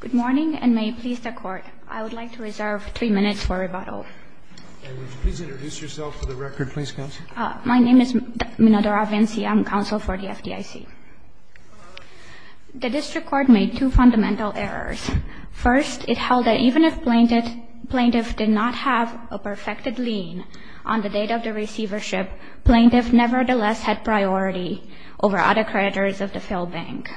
Good morning, and may it please the Court, I would like to reserve three minutes for rebuttal. And would you please introduce yourself for the record, please, Counsel? My name is Minadora Vinci. I'm Counsel for the FDIC. The District Court made two fundamental errors. First, it held that even if plaintiffs did not have a perfected lien on the date of the receivership, plaintiffs nevertheless had priority over other creditors of the filled bank.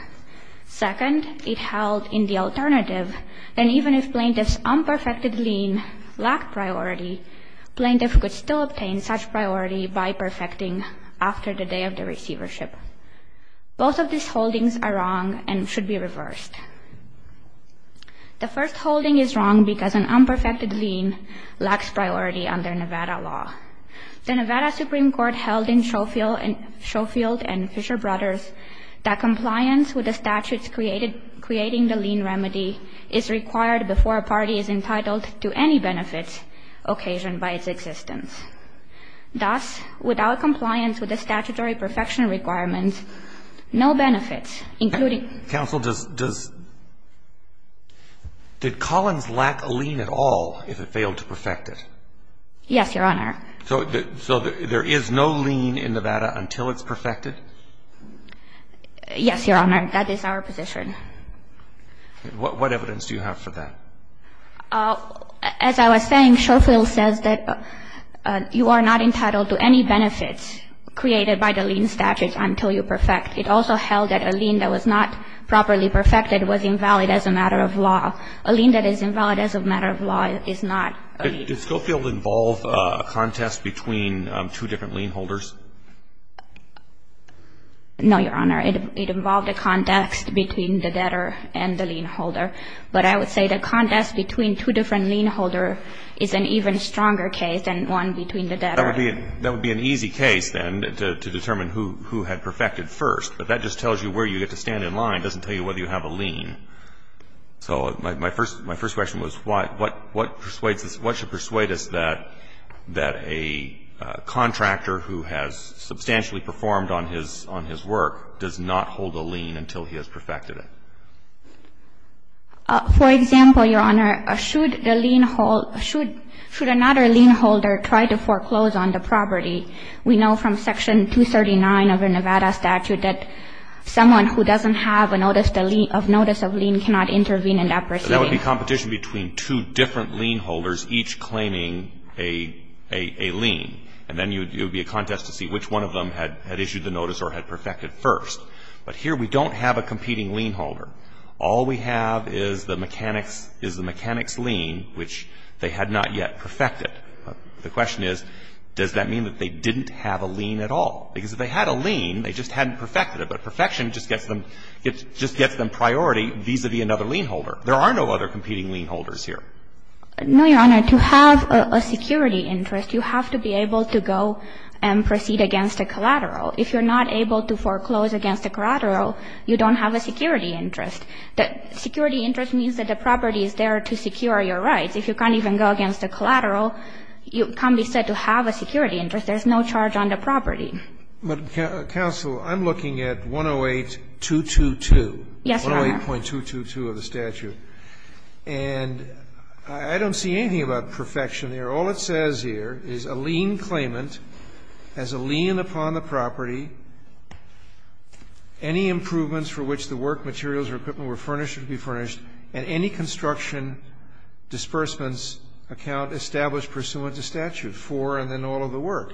Second, it held in the alternative that even if plaintiffs' unperfected lien lacked priority, plaintiffs could still obtain such priority by perfecting after the day of the receivership. Both of these holdings are wrong and should be reversed. The first holding is wrong because an unperfected lien lacks priority under Nevada law. The Nevada Supreme Court held in Schofield v. Fisher Brothers that compliance with the statutes creating the lien remedy is required before a party is entitled to any benefits occasioned by its existence. Thus, without compliance with the statutory perfection requirements, no benefits, including ---- Counsel, does ---- did Collins lack a lien at all if it failed to perfect it? Yes, Your Honor. So there is no lien in Nevada until it's perfected? Yes, Your Honor. That is our position. What evidence do you have for that? As I was saying, Schofield says that you are not entitled to any benefits created by the lien statute until you perfect. It also held that a lien that was not properly perfected was invalid as a matter A lien that is invalid as a matter of law is not a lien. Did Schofield involve a contest between two different lien holders? No, Your Honor. It involved a contest between the debtor and the lien holder. But I would say the contest between two different lien holders is an even stronger case than one between the debtor. That would be an easy case then to determine who had perfected first. But that just tells you where you get to stand in line. It doesn't tell you whether you have a lien. So my first question was what should persuade us that a contractor who has substantially performed on his work does not hold a lien until he has perfected it? For example, Your Honor, should another lien holder try to foreclose on the property? We know from Section 239 of the Nevada statute that someone who doesn't have a notice of lien cannot intervene in that proceeding. That would be competition between two different lien holders, each claiming a lien. And then it would be a contest to see which one of them had issued the notice or had perfected first. But here we don't have a competing lien holder. All we have is the mechanic's lien, which they had not yet perfected. The question is, does that mean that they didn't have a lien at all? Because if they had a lien, they just hadn't perfected it. But perfection just gets them priority vis-à-vis another lien holder. There are no other competing lien holders here. No, Your Honor. To have a security interest, you have to be able to go and proceed against a collateral. If you're not able to foreclose against a collateral, you don't have a security interest. Security interest means that the property is there to secure your rights. If you can't even go against a collateral, you can't be said to have a security interest. There's no charge on the property. But, counsel, I'm looking at 108.222. Yes, Your Honor. 108.222 of the statute. And I don't see anything about perfection here. All it says here is a lien claimant has a lien upon the property, any improvements for which the work materials or equipment were furnished or to be furnished, and any construction disbursements account established pursuant to statute for and then all of the work.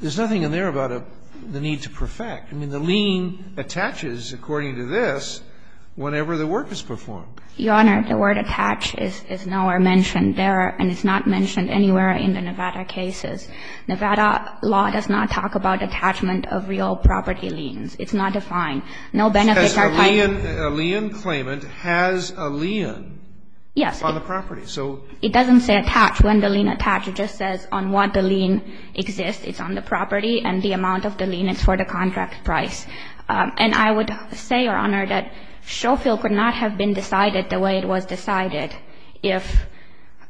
There's nothing in there about the need to perfect. I mean, the lien attaches, according to this, whenever the work is performed. Your Honor, the word attach is nowhere mentioned there and it's not mentioned anywhere in the Nevada cases. Nevada law does not talk about attachment of real property liens. It's not defined. No benefits are paid. A lien claimant has a lien on the property. Yes. It doesn't say attach. When the lien attach, it just says on what the lien exists. It's on the property and the amount of the lien is for the contract price. And I would say, Your Honor, that Schofield could not have been decided the way it was decided if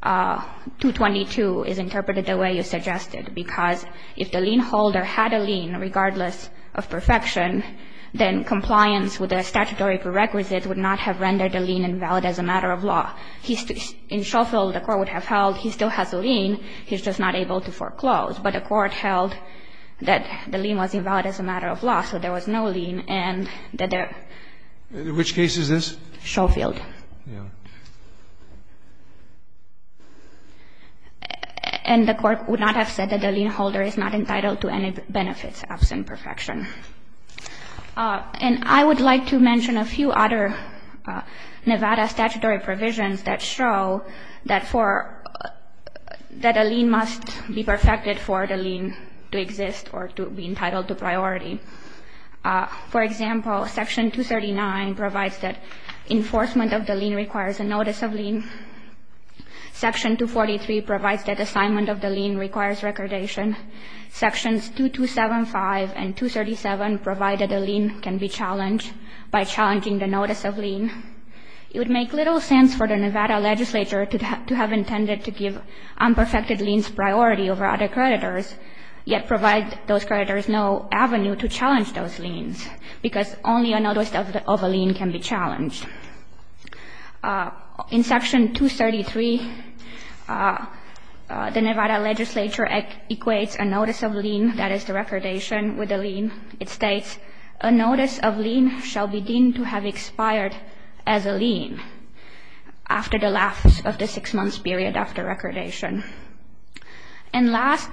222 is interpreted the way you suggested, because if the lien holder had a lien regardless of perfection, then compliance with the statutory prerequisite would not have rendered the lien invalid as a matter of law. In Schofield, the Court would have held he still has a lien. He's just not able to foreclose. But the Court held that the lien was invalid as a matter of law, so there was no lien and that there was no lien. Which case is this? Schofield. And the Court would not have said that the lien holder is not entitled to any benefits absent perfection. And I would like to mention a few other Nevada statutory provisions that show that for that a lien must be perfected for the lien to exist or to be entitled to priority. For example, Section 239 provides that enforcement of the lien requires a notice of lien. Section 243 provides that assignment of the lien requires recordation. Sections 2275 and 237 provide that a lien can be challenged by challenging the notice of lien. It would make little sense for the Nevada legislature to have intended to give unperfected liens priority over other creditors, yet provide those creditors no avenue to challenge those liens, because only a notice of a lien can be challenged. In Section 233, the Nevada legislature equates a notice of lien, that is the recordation with a lien. It states, a notice of lien shall be deemed to have expired as a lien after the last of the six-month period after recordation. And last,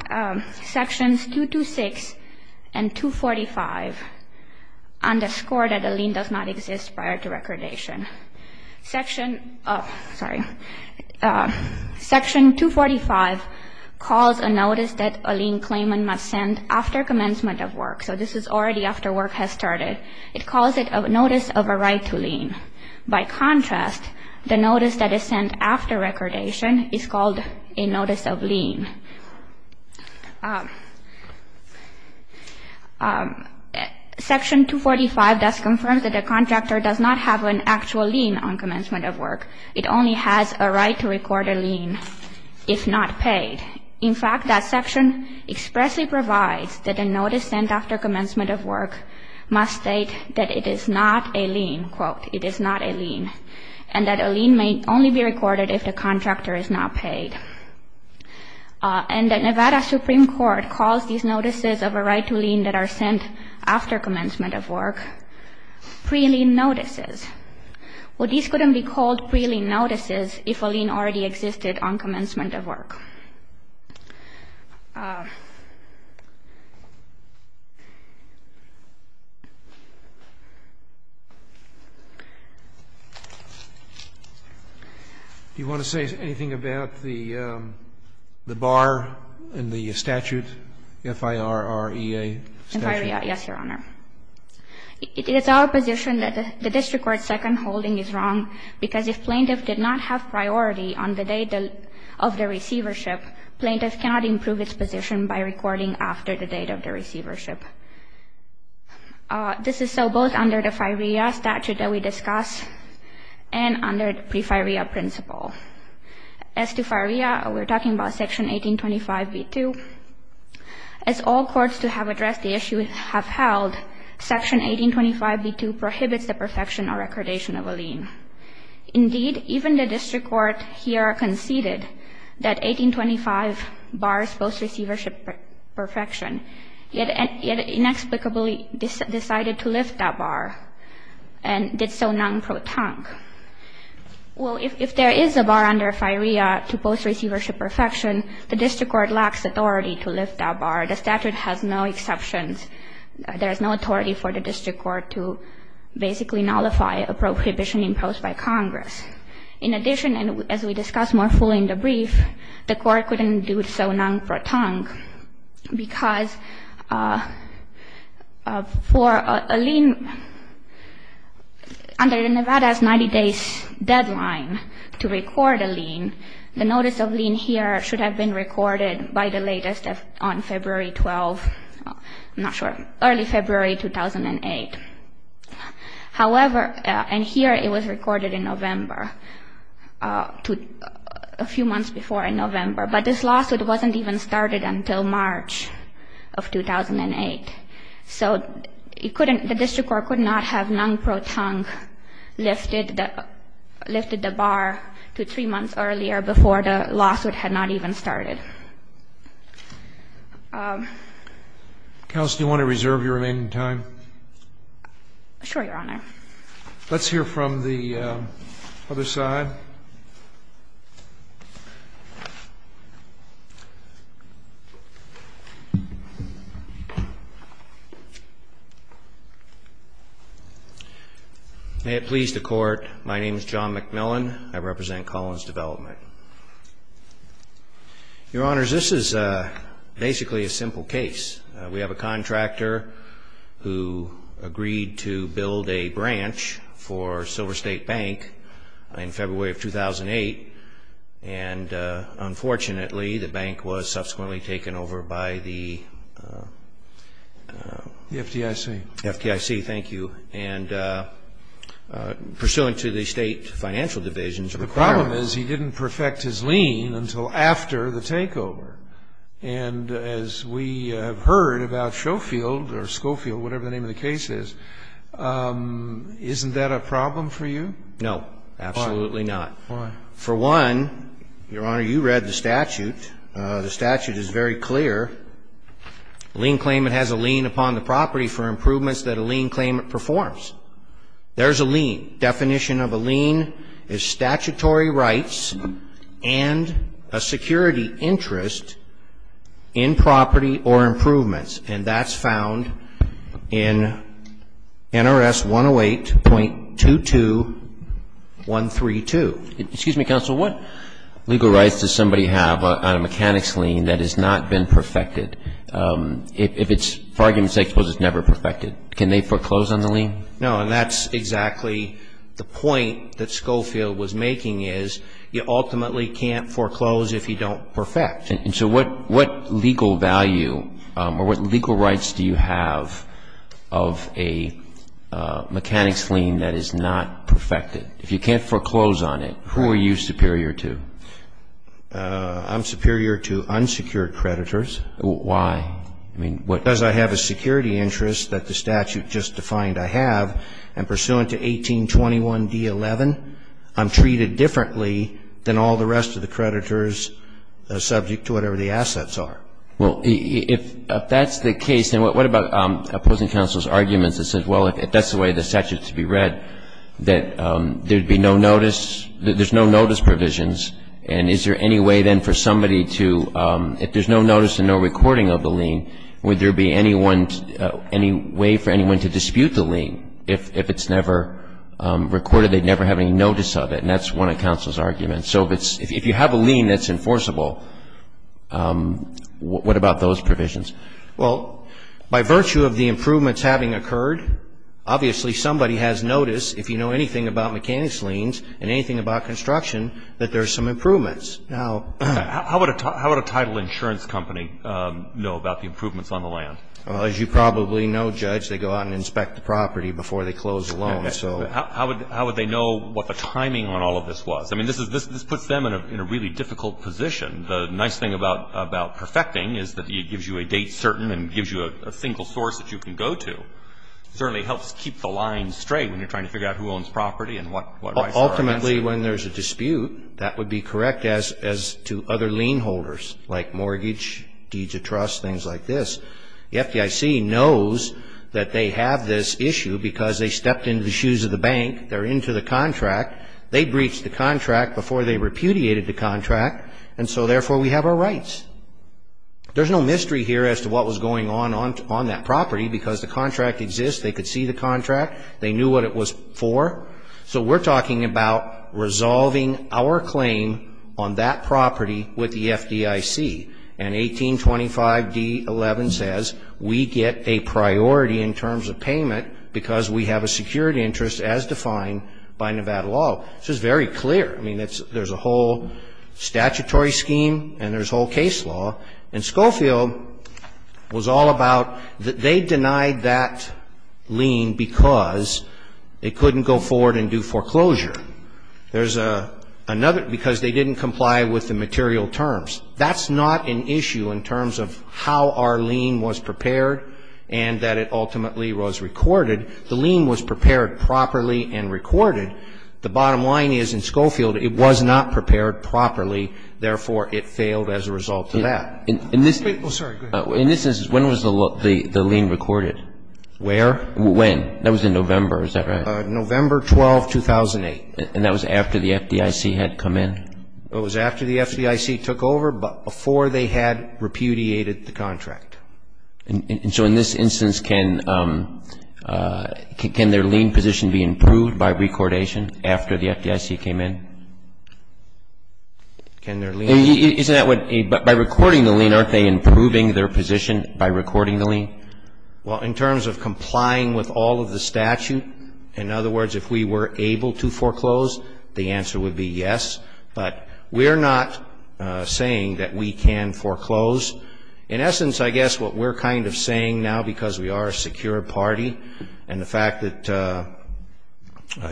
Sections 226 and 245 underscore that a lien does not exist prior to recordation. Section, oh, sorry. Section 245 calls a notice that a lien claimant must send after commencement of work. So this is already after work has started. It calls it a notice of a right to lien. By contrast, the notice that is sent after recordation is called a notice of lien. Section 245 thus confirms that a contractor does not have an actual lien on commencement of work. It only has a right to record a lien if not paid. In fact, that section expressly provides that a notice sent after commencement of work must state that it is not a lien, quote, it is not a lien, and that a lien may only be recorded if the contractor is not paid. And the Nevada Supreme Court calls these notices of a right to lien that are sent after commencement of work pre-lien notices. Well, these couldn't be called pre-lien notices if a lien already existed on commencement of work. Do you want to say anything about the bar in the statute, FIRREA statute? FIRREA, yes, Your Honor. It is our position that the district court's second holding is wrong because if plaintiff did not have priority on the date of the receivership, plaintiff cannot improve its position by recording after the date of the receivership. This is so both under the FIRREA statute that we discussed and under the pre-FIRREA principle. As to FIRREA, we're talking about Section 1825b2. As all courts to have addressed the issue have held, Section 1825b2 prohibits the perfection or recordation of a lien. Indeed, even the district court here conceded that 1825 bars post-receivership perfection, yet inexplicably decided to lift that bar and did so non-protonque. Well, if there is a bar under FIRREA to post-receivership perfection, the district court lacks authority to lift that bar. The statute has no exceptions. There is no authority for the district court to basically nullify a prohibition imposed by Congress. In addition, and as we discussed more fully in the brief, the court couldn't do so non-protonque because for a lien under Nevada's 90 days deadline to record a lien, the notice of lien here should have been recorded by the latest on February 12th. I'm not sure. Early February 2008. However, and here it was recorded in November, a few months before in November. But this lawsuit wasn't even started until March of 2008. So it couldn't, the district court could not have non-protonque lifted the bar to three months earlier before the lawsuit had not even started. Counsel, do you want to reserve your remaining time? Sure, Your Honor. Let's hear from the other side. May it please the Court, my name is John McMillan. I represent Collins Development. Your Honors, this is basically a simple case. We have a contractor who agreed to build a branch for Silver State Bank in February of 2008, and unfortunately, the bank was subsequently taken over by the FDIC. The FDIC, thank you. And pursuant to the State Financial Division's requirement. The problem is he didn't perfect his lien until after the takeover. And as we have heard about Schofield or Schofield, whatever the name of the case is, isn't that a problem for you? No, absolutely not. Why? For one, Your Honor, you read the statute. The statute is very clear. A lien claimant has a lien upon the property for improvements that a lien claimant performs. There's a lien. The definition of a lien is statutory rights and a security interest in property or improvements. And that's found in NRS 108.22132. Excuse me, Counsel. What legal rights does somebody have on a mechanics lien that has not been perfected? If it's, for argument's sake, suppose it's never perfected, can they foreclose on the lien? No. And that's exactly the point that Schofield was making is you ultimately can't foreclose if you don't perfect. And so what legal value or what legal rights do you have of a mechanics lien that is not perfected? If you can't foreclose on it, who are you superior to? I'm superior to unsecured creditors. Why? Does I have a security interest that the statute just defined I have, and pursuant to 1821d11, I'm treated differently than all the rest of the creditors subject to whatever the assets are? Well, if that's the case, then what about opposing counsel's arguments that says, well, if that's the way the statute is to be read, that there would be no notice, there's no notice provisions, and is there any way then for somebody to, if there's no notice and no recording of the lien, would there be any way for anyone to dispute the lien if it's never recorded, they'd never have any notice of it, and that's one of counsel's arguments. So if you have a lien that's enforceable, what about those provisions? Well, by virtue of the improvements having occurred, obviously somebody has notice, if you know anything about mechanics liens and anything about construction, that there are some improvements. Now, how would a title insurance company know about the improvements on the land? Well, as you probably know, Judge, they go out and inspect the property before they close the loan, so. How would they know what the timing on all of this was? I mean, this puts them in a really difficult position. The nice thing about perfecting is that it gives you a date certain and gives you a single source that you can go to. It certainly helps keep the line straight when you're trying to figure out who owns property and what rights are. Ultimately, when there's a dispute, that would be correct as to other lien holders, like mortgage, deeds of trust, things like this. The FDIC knows that they have this issue because they stepped into the shoes of the bank, they're into the contract, they breached the contract before they repudiated the contract, and so therefore we have our rights. There's no mystery here as to what was going on on that property because the contract exists, they could see the contract, they knew what it was for. So we're talking about resolving our claim on that property with the FDIC. And 1825d11 says we get a priority in terms of payment because we have a security interest as defined by Nevada law. This is very clear. I mean, there's a whole statutory scheme and there's a whole case law. And Schofield was all about that they denied that lien because it couldn't go forward and do foreclosure. There's another because they didn't comply with the material terms. That's not an issue in terms of how our lien was prepared and that it ultimately was recorded. The lien was prepared properly and recorded. The bottom line is in Schofield it was not prepared properly, therefore it failed as a result of that. In this instance, when was the lien recorded? Where? When? That was in November, is that right? November 12, 2008. And that was after the FDIC had come in? It was after the FDIC took over, but before they had repudiated the contract. And so in this instance, can their lien position be improved by recordation after the FDIC came in? Can their lien? Isn't that what, by recording the lien, aren't they improving their position by recording the lien? Well, in terms of complying with all of the statute, in other words, if we were able to foreclose, the answer would be yes. But we're not saying that we can foreclose. In essence, I guess what we're kind of saying now, because we are a secure party and the fact that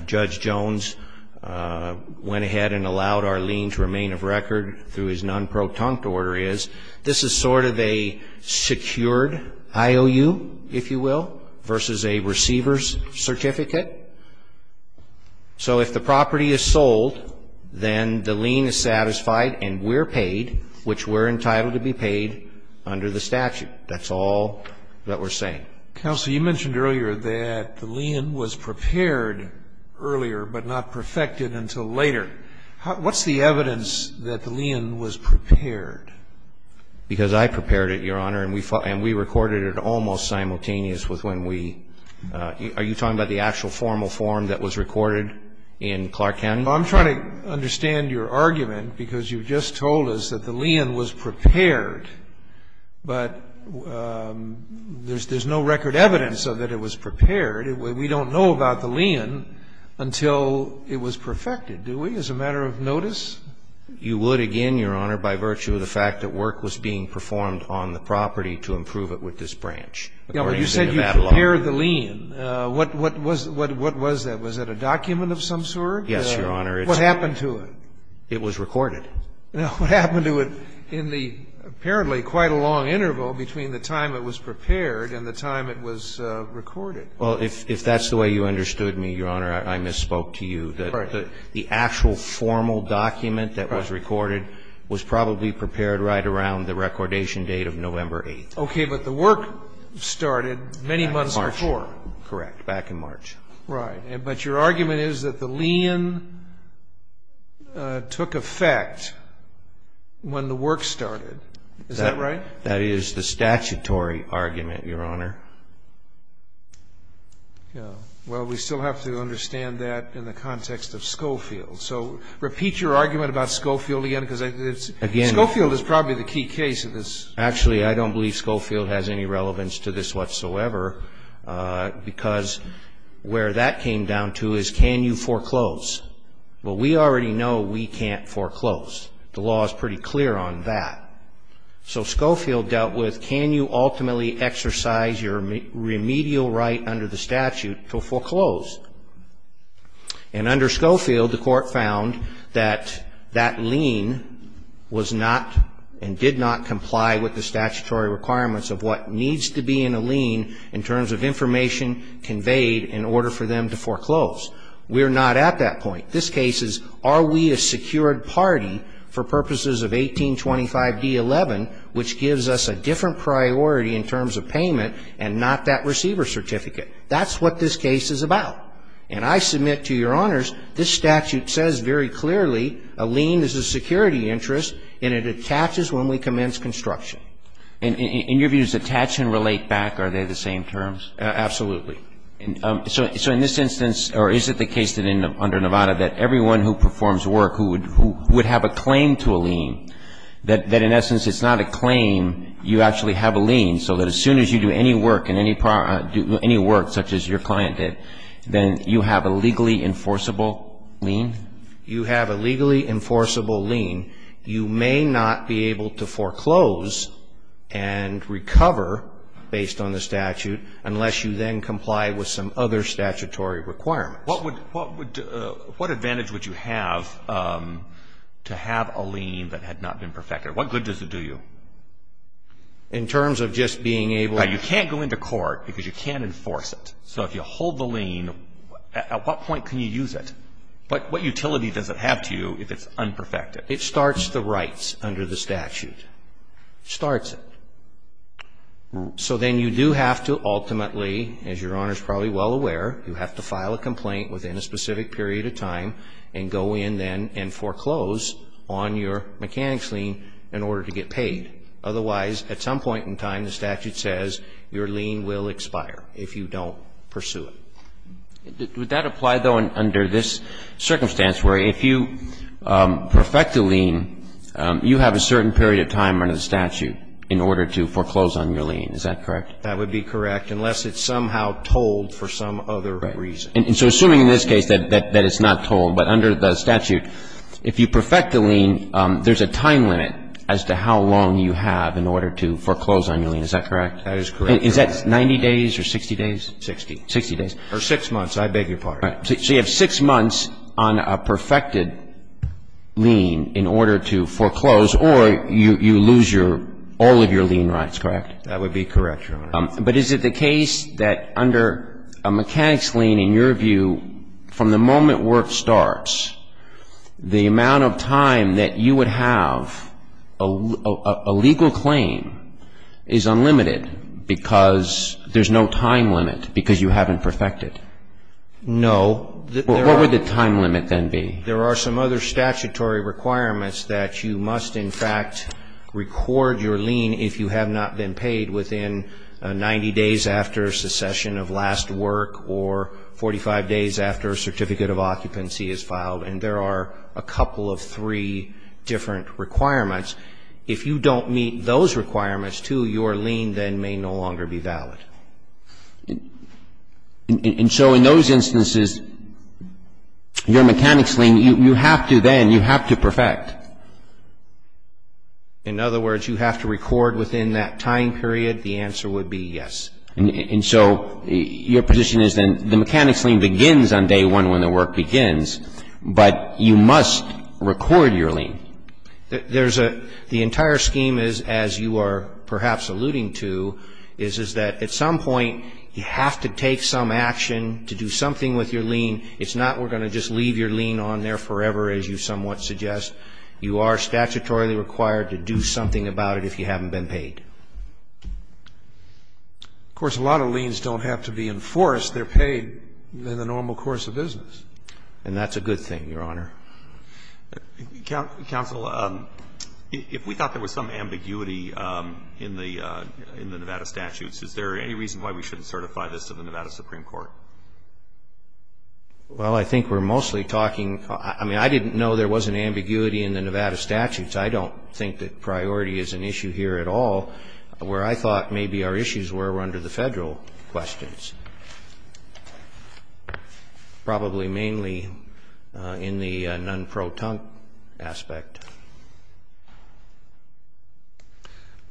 Judge Jones went ahead and allowed our lien to remain of record through his non-protunct order is, this is sort of a secured IOU, if you will, versus a receiver's certificate. So if the property is sold, then the lien is satisfied and we're paid, which we're entitled to be paid under the statute. That's all that we're saying. Counsel, you mentioned earlier that the lien was prepared earlier but not perfected until later. What's the evidence that the lien was prepared? Because I prepared it, Your Honor, and we recorded it almost simultaneous with when we – are you talking about the actual formal form that was recorded in Clark County? Well, I'm trying to understand your argument, because you just told us that the lien was prepared, but there's no record evidence of that it was prepared. We don't know about the lien until it was perfected, do we, as a matter of notice? You would, again, Your Honor, by virtue of the fact that work was being performed on the property to improve it with this branch. You said you prepared the lien. What was that? Was that a document of some sort? Yes, Your Honor. What happened to it? It was recorded. What happened to it in the apparently quite a long interval between the time it was prepared and the time it was recorded? Well, if that's the way you understood me, Your Honor, I misspoke to you. All right. The actual formal document that was recorded was probably prepared right around the recordation date of November 8th. Okay. But the work started many months before. Back in March. Correct. Back in March. Right. But your argument is that the lien took effect when the work started. Is that right? That is the statutory argument, Your Honor. Well, we still have to understand that in the context of Schofield. So repeat your argument about Schofield again, because Schofield is probably the key case of this. Actually, I don't believe Schofield has any relevance to this whatsoever, because where that came down to is can you foreclose? Well, we already know we can't foreclose. The law is pretty clear on that. So Schofield dealt with can you ultimately exercise your remedial right under the statute to foreclose? And under Schofield, the court found that that lien was not and did not comply with the statutory requirements of what needs to be in a lien in terms of information conveyed in order for them to foreclose. We're not at that point. This case is are we a secured party for purposes of 1825 D11, which gives us a different priority in terms of payment and not that receiver certificate. That's what this case is about. And I submit to your honors this statute says very clearly a lien is a security interest, and it attaches when we commence construction. And in your views, attach and relate back, are they the same terms? Absolutely. So in this instance, or is it the case that under Nevada that everyone who performs work who would have a claim to a lien, that in essence it's not a claim, you actually have a lien, so that as soon as you do any work and any work such as your client did, then you have a legally enforceable lien? You have a legally enforceable lien. You may not be able to foreclose and recover based on the statute unless you then comply with some other statutory requirements. What would, what advantage would you have to have a lien that had not been perfected? What good does it do you? In terms of just being able to You can't go into court because you can't enforce it. So if you hold the lien, at what point can you use it? But what utility does it have to you if it's unperfected? It starts the rights under the statute. It starts it. So then you do have to ultimately, as Your Honor is probably well aware, you have to file a complaint within a specific period of time and go in then and foreclose on your mechanics lien in order to get paid. Otherwise, at some point in time, the statute says your lien will expire if you don't pursue it. Would that apply, though, under this circumstance where if you perfect a lien, you have a certain period of time under the statute in order to foreclose on your lien? Is that correct? That would be correct, unless it's somehow told for some other reason. Right. And so assuming in this case that it's not told, but under the statute, if you perfect a lien, there's a time limit as to how long you have in order to foreclose on your lien. Is that correct? That is correct, Your Honor. Is that 90 days or 60 days? 60. 60 days. Or 6 months. I beg your pardon. Right. So you have 6 months on a perfected lien in order to foreclose or you lose your all of your lien rights, correct? That would be correct, Your Honor. But is it the case that under a mechanics lien, in your view, from the moment work starts, the amount of time that you would have a legal claim is unlimited because there's no time limit because you haven't perfected? No. What would the time limit then be? There are some other statutory requirements that you must in fact record your lien if you have not been paid within 90 days after secession of last work or 45 days after a certificate of occupancy is filed. And there are a couple of three different requirements. If you don't meet those requirements, too, your lien then may no longer be valid. And so in those instances, your mechanics lien, you have to then, you have to perfect. In other words, you have to record within that time period, the answer would be yes. And so your position is then the mechanics lien begins on day one when the work begins, but you must record your lien. The entire scheme is, as you are perhaps alluding to, is that at some point you have to take some action to do something with your lien. It's not we're going to just leave your lien on there forever, as you somewhat suggest. You are statutorily required to do something about it if you haven't been paid. Of course, a lot of liens don't have to be enforced. They're paid in the normal course of business. And that's a good thing, Your Honor. Counsel, if we thought there was some ambiguity in the Nevada statutes, is there any reason why we shouldn't certify this to the Nevada Supreme Court? Well, I think we're mostly talking, I mean, I didn't know there was an ambiguity in the Nevada statutes. I don't think that priority is an issue here at all. Where I thought maybe our issues were, were under the Federal questions. Probably mainly in the non-protunct aspect.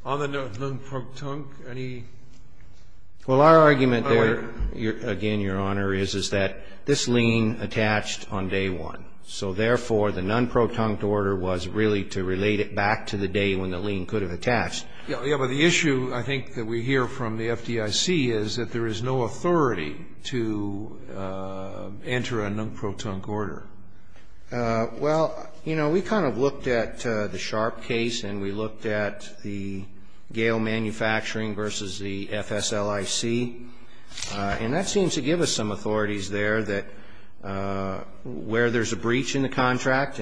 On the non-protunct, any? Well, our argument there, again, Your Honor, is that this lien attached on day one. So, therefore, the non-protunct order was really to relate it back to the day when the lien could have attached. Yes, but the issue, I think, that we hear from the FDIC is that there is no authority to enter a non-protunct order. Well, you know, we kind of looked at the Sharp case and we looked at the Gale Manufacturing versus the FSLIC. And that seems to give us some authorities there that where there's a breach in the FSLIC,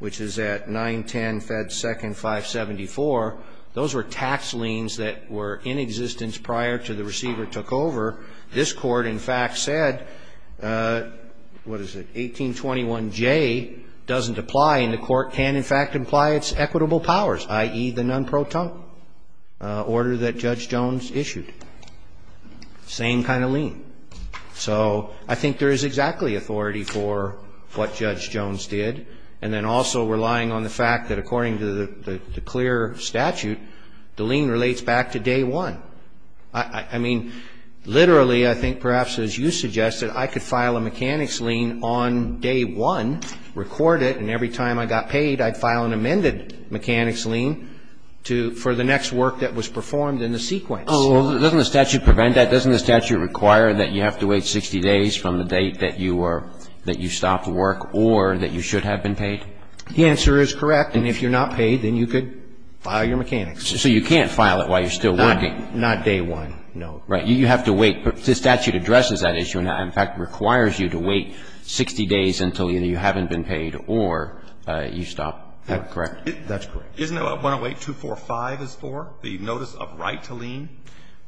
which is at 910 Fed Second 574, those were tax liens that were in existence prior to the receiver took over. This Court, in fact, said, what is it, 1821J doesn't apply and the Court can, in fact, apply its equitable powers, i.e., the non-protunct order that Judge Jones issued. Same kind of lien. So I think there is exactly authority for what Judge Jones did. And then also relying on the fact that according to the clear statute, the lien relates back to day one. I mean, literally, I think perhaps as you suggested, I could file a mechanics lien on day one, record it, and every time I got paid, I'd file an amended mechanics lien to for the next work that was performed in the sequence. Doesn't the statute prevent that? Doesn't the statute require that you have to wait 60 days from the date that you were or that you stopped work or that you should have been paid? The answer is correct. And if you're not paid, then you could file your mechanics. So you can't file it while you're still working. Not day one, no. Right. You have to wait. The statute addresses that issue and, in fact, requires you to wait 60 days until either you haven't been paid or you stopped work. That's correct. Isn't that what 108245 is for, the notice of right to lien?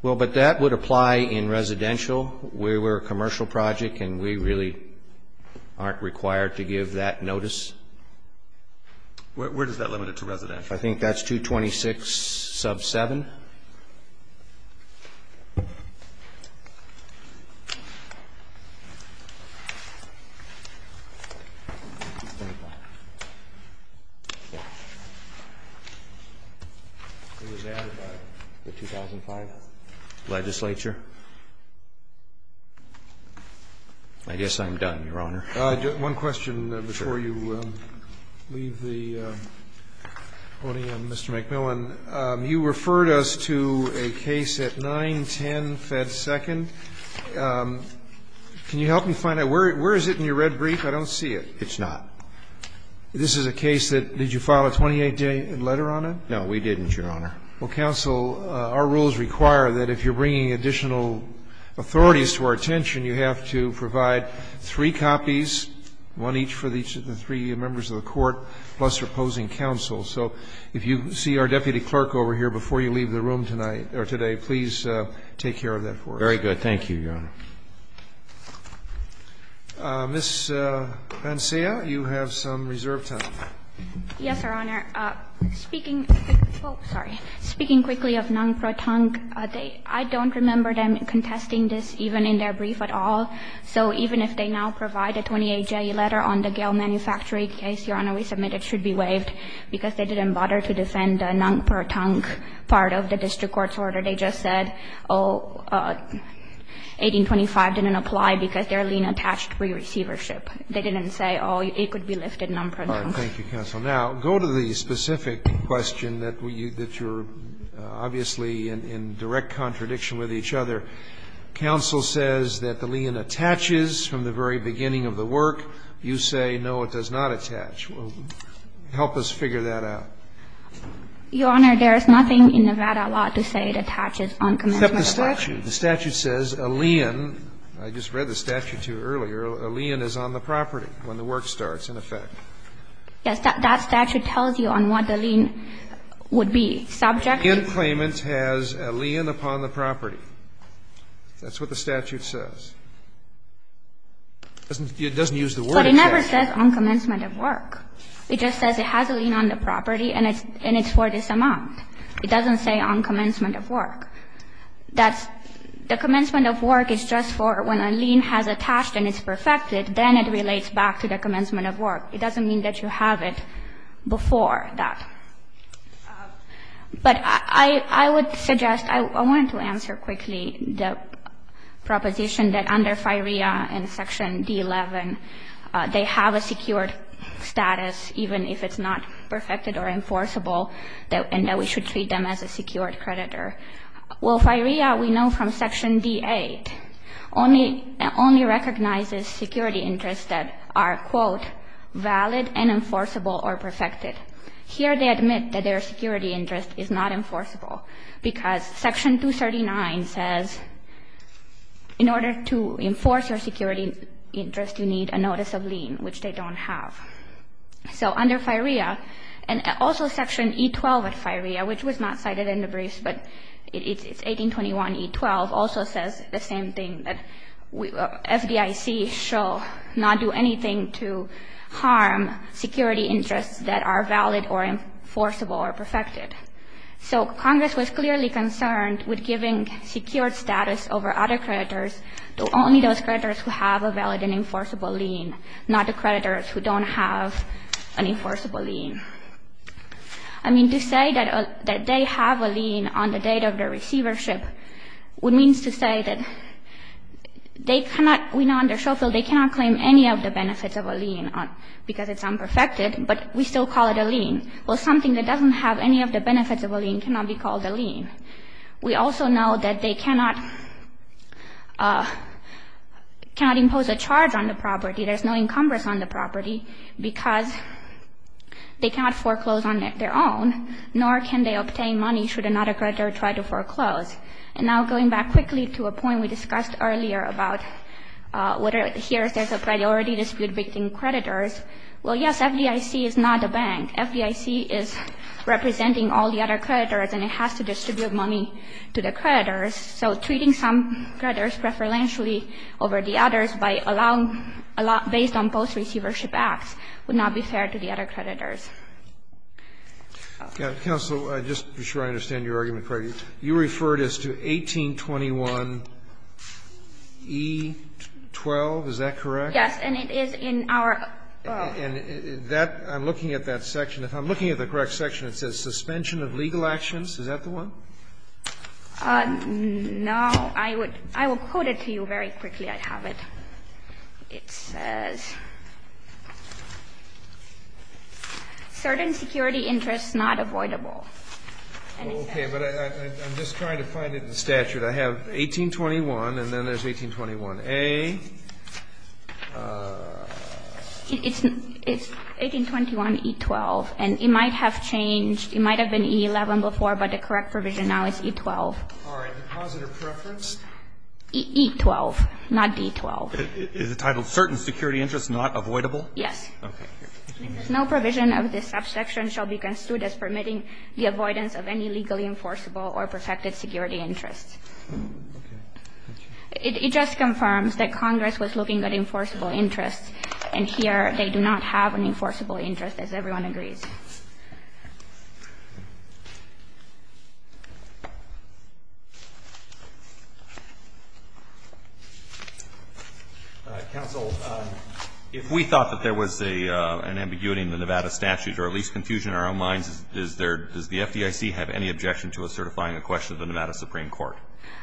Well, but that would apply in residential. We're a commercial project, and we really aren't required to give that notice. Where is that limited to residential? I think that's 226 sub 7. Who was added by the 2005 legislature? I guess I'm done, Your Honor. One question before you leave the podium, Mr. McMillan. You referred us to a case at 910 Fed Second. Can you help me find it? Where is it in your red brief? I don't see it. It's not. This is a case that, did you file a 28-day letter on it? No, we didn't, Your Honor. Well, counsel, our rules require that if you're bringing additional authorities to our attention, you have to provide three copies, one each for the three members of the court, plus opposing counsel. So if you see our deputy clerk over here before you leave the room tonight or today, please take care of that for us. Very good. Thank you, Your Honor. Ms. Pancea, you have some reserve time. Yes, Your Honor. Speaking quickly of non-protonc, I don't remember them contesting this even in their brief at all. So even if they now provide a 28-day letter on the Gale Manufacturing case, Your Honor, they didn't bother to defend the non-protonc part of the district court's order. They just said, oh, 1825 didn't apply because their lien attached pre-receivership. They didn't say, oh, it could be lifted non-protonc. All right. Thank you, counsel. Now, go to the specific question that you're obviously in direct contradiction with each other. Counsel says that the lien attaches from the very beginning of the work. You say, no, it does not attach. Help us figure that out. Your Honor, there is nothing in Nevada law to say it attaches on commencement of work. Except the statute. The statute says a lien. I just read the statute to you earlier. A lien is on the property when the work starts, in effect. Yes. That statute tells you on what the lien would be. Subject to claimant has a lien upon the property. That's what the statute says. It doesn't use the word attachment. But it never says on commencement of work. It just says it has a lien on the property and it's for this amount. It doesn't say on commencement of work. That's the commencement of work is just for when a lien has attached and it's perfected. Then it relates back to the commencement of work. It doesn't mean that you have it before that. But I would suggest, I wanted to answer quickly the proposition that under FIREA in Section D11, they have a secured status even if it's not perfected or enforceable and that we should treat them as a secured creditor. Well, FIREA, we know from Section D8, only recognizes security interests that are quote, valid and enforceable or perfected. Here they admit that their security interest is not enforceable because Section 239 says in order to enforce your security interest, you need a notice of lien, which they don't have. So under FIREA, and also Section E12 of FIREA, which was not cited in the briefs, but it's 1821E12, also says the same thing, that FDIC shall not do anything to harm security interests that are valid or enforceable or perfected. So Congress was clearly concerned with giving secured status over other creditors to only those creditors who have a valid and enforceable lien, not the creditors who don't have an enforceable lien. I mean, to say that they have a lien on the date of their receivership would mean to say that they cannot, we know on their show field, they cannot claim any of the benefits of a lien because it's unperfected, but we still call it a lien. Well, something that doesn't have any of the benefits of a lien cannot be called a lien. We also know that they cannot impose a charge on the property. There's no encumbrance on the property because they cannot foreclose on their own, nor can they obtain money should another creditor try to foreclose. And now going back quickly to a point we discussed earlier about whether here there's a priority dispute between creditors, well, yes, FDIC is not a bank. FDIC is representing all the other creditors, and it has to distribute money to the creditors. So treating some creditors preferentially over the others by allowing, based on both receivership acts, would not be fair to the other creditors. Roberts. Counsel, just to be sure I understand your argument correctly, you referred us to 1821e12. Is that correct? Yes, and it is in our. And that, I'm looking at that section. If I'm looking at the correct section, it says suspension of legal actions. Is that the one? No. I would quote it to you very quickly. I have it. It says, certain security interests not avoidable. Okay. But I'm just trying to find it in the statute. I have 1821 and then there's 1821a. It's 1821e12, and it might have changed. It might have been e11 before, but the correct provision now is e12. All right. Deposit or preference? e12, not d12. Is it titled certain security interests not avoidable? Yes. Okay. No provision of this subsection shall be construed as permitting the avoidance of any legally enforceable or protected security interests. Okay. It just confirms that Congress was looking at enforceable interests, and here they do not have an enforceable interest, as everyone agrees. All right. Counsel, if we thought that there was an ambiguity in the Nevada statute or at least confusion in our own minds, is there does the FDIC have any objection to us certifying a question of the Nevada Supreme Court?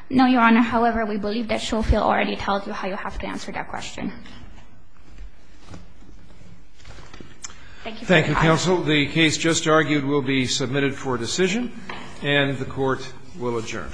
No, Your Honor. However, we believe that Shofield already tells you how you have to answer that Thank you for your time. Thank you, counsel. The case just argued will be submitted for decision, and the Court will adjourn.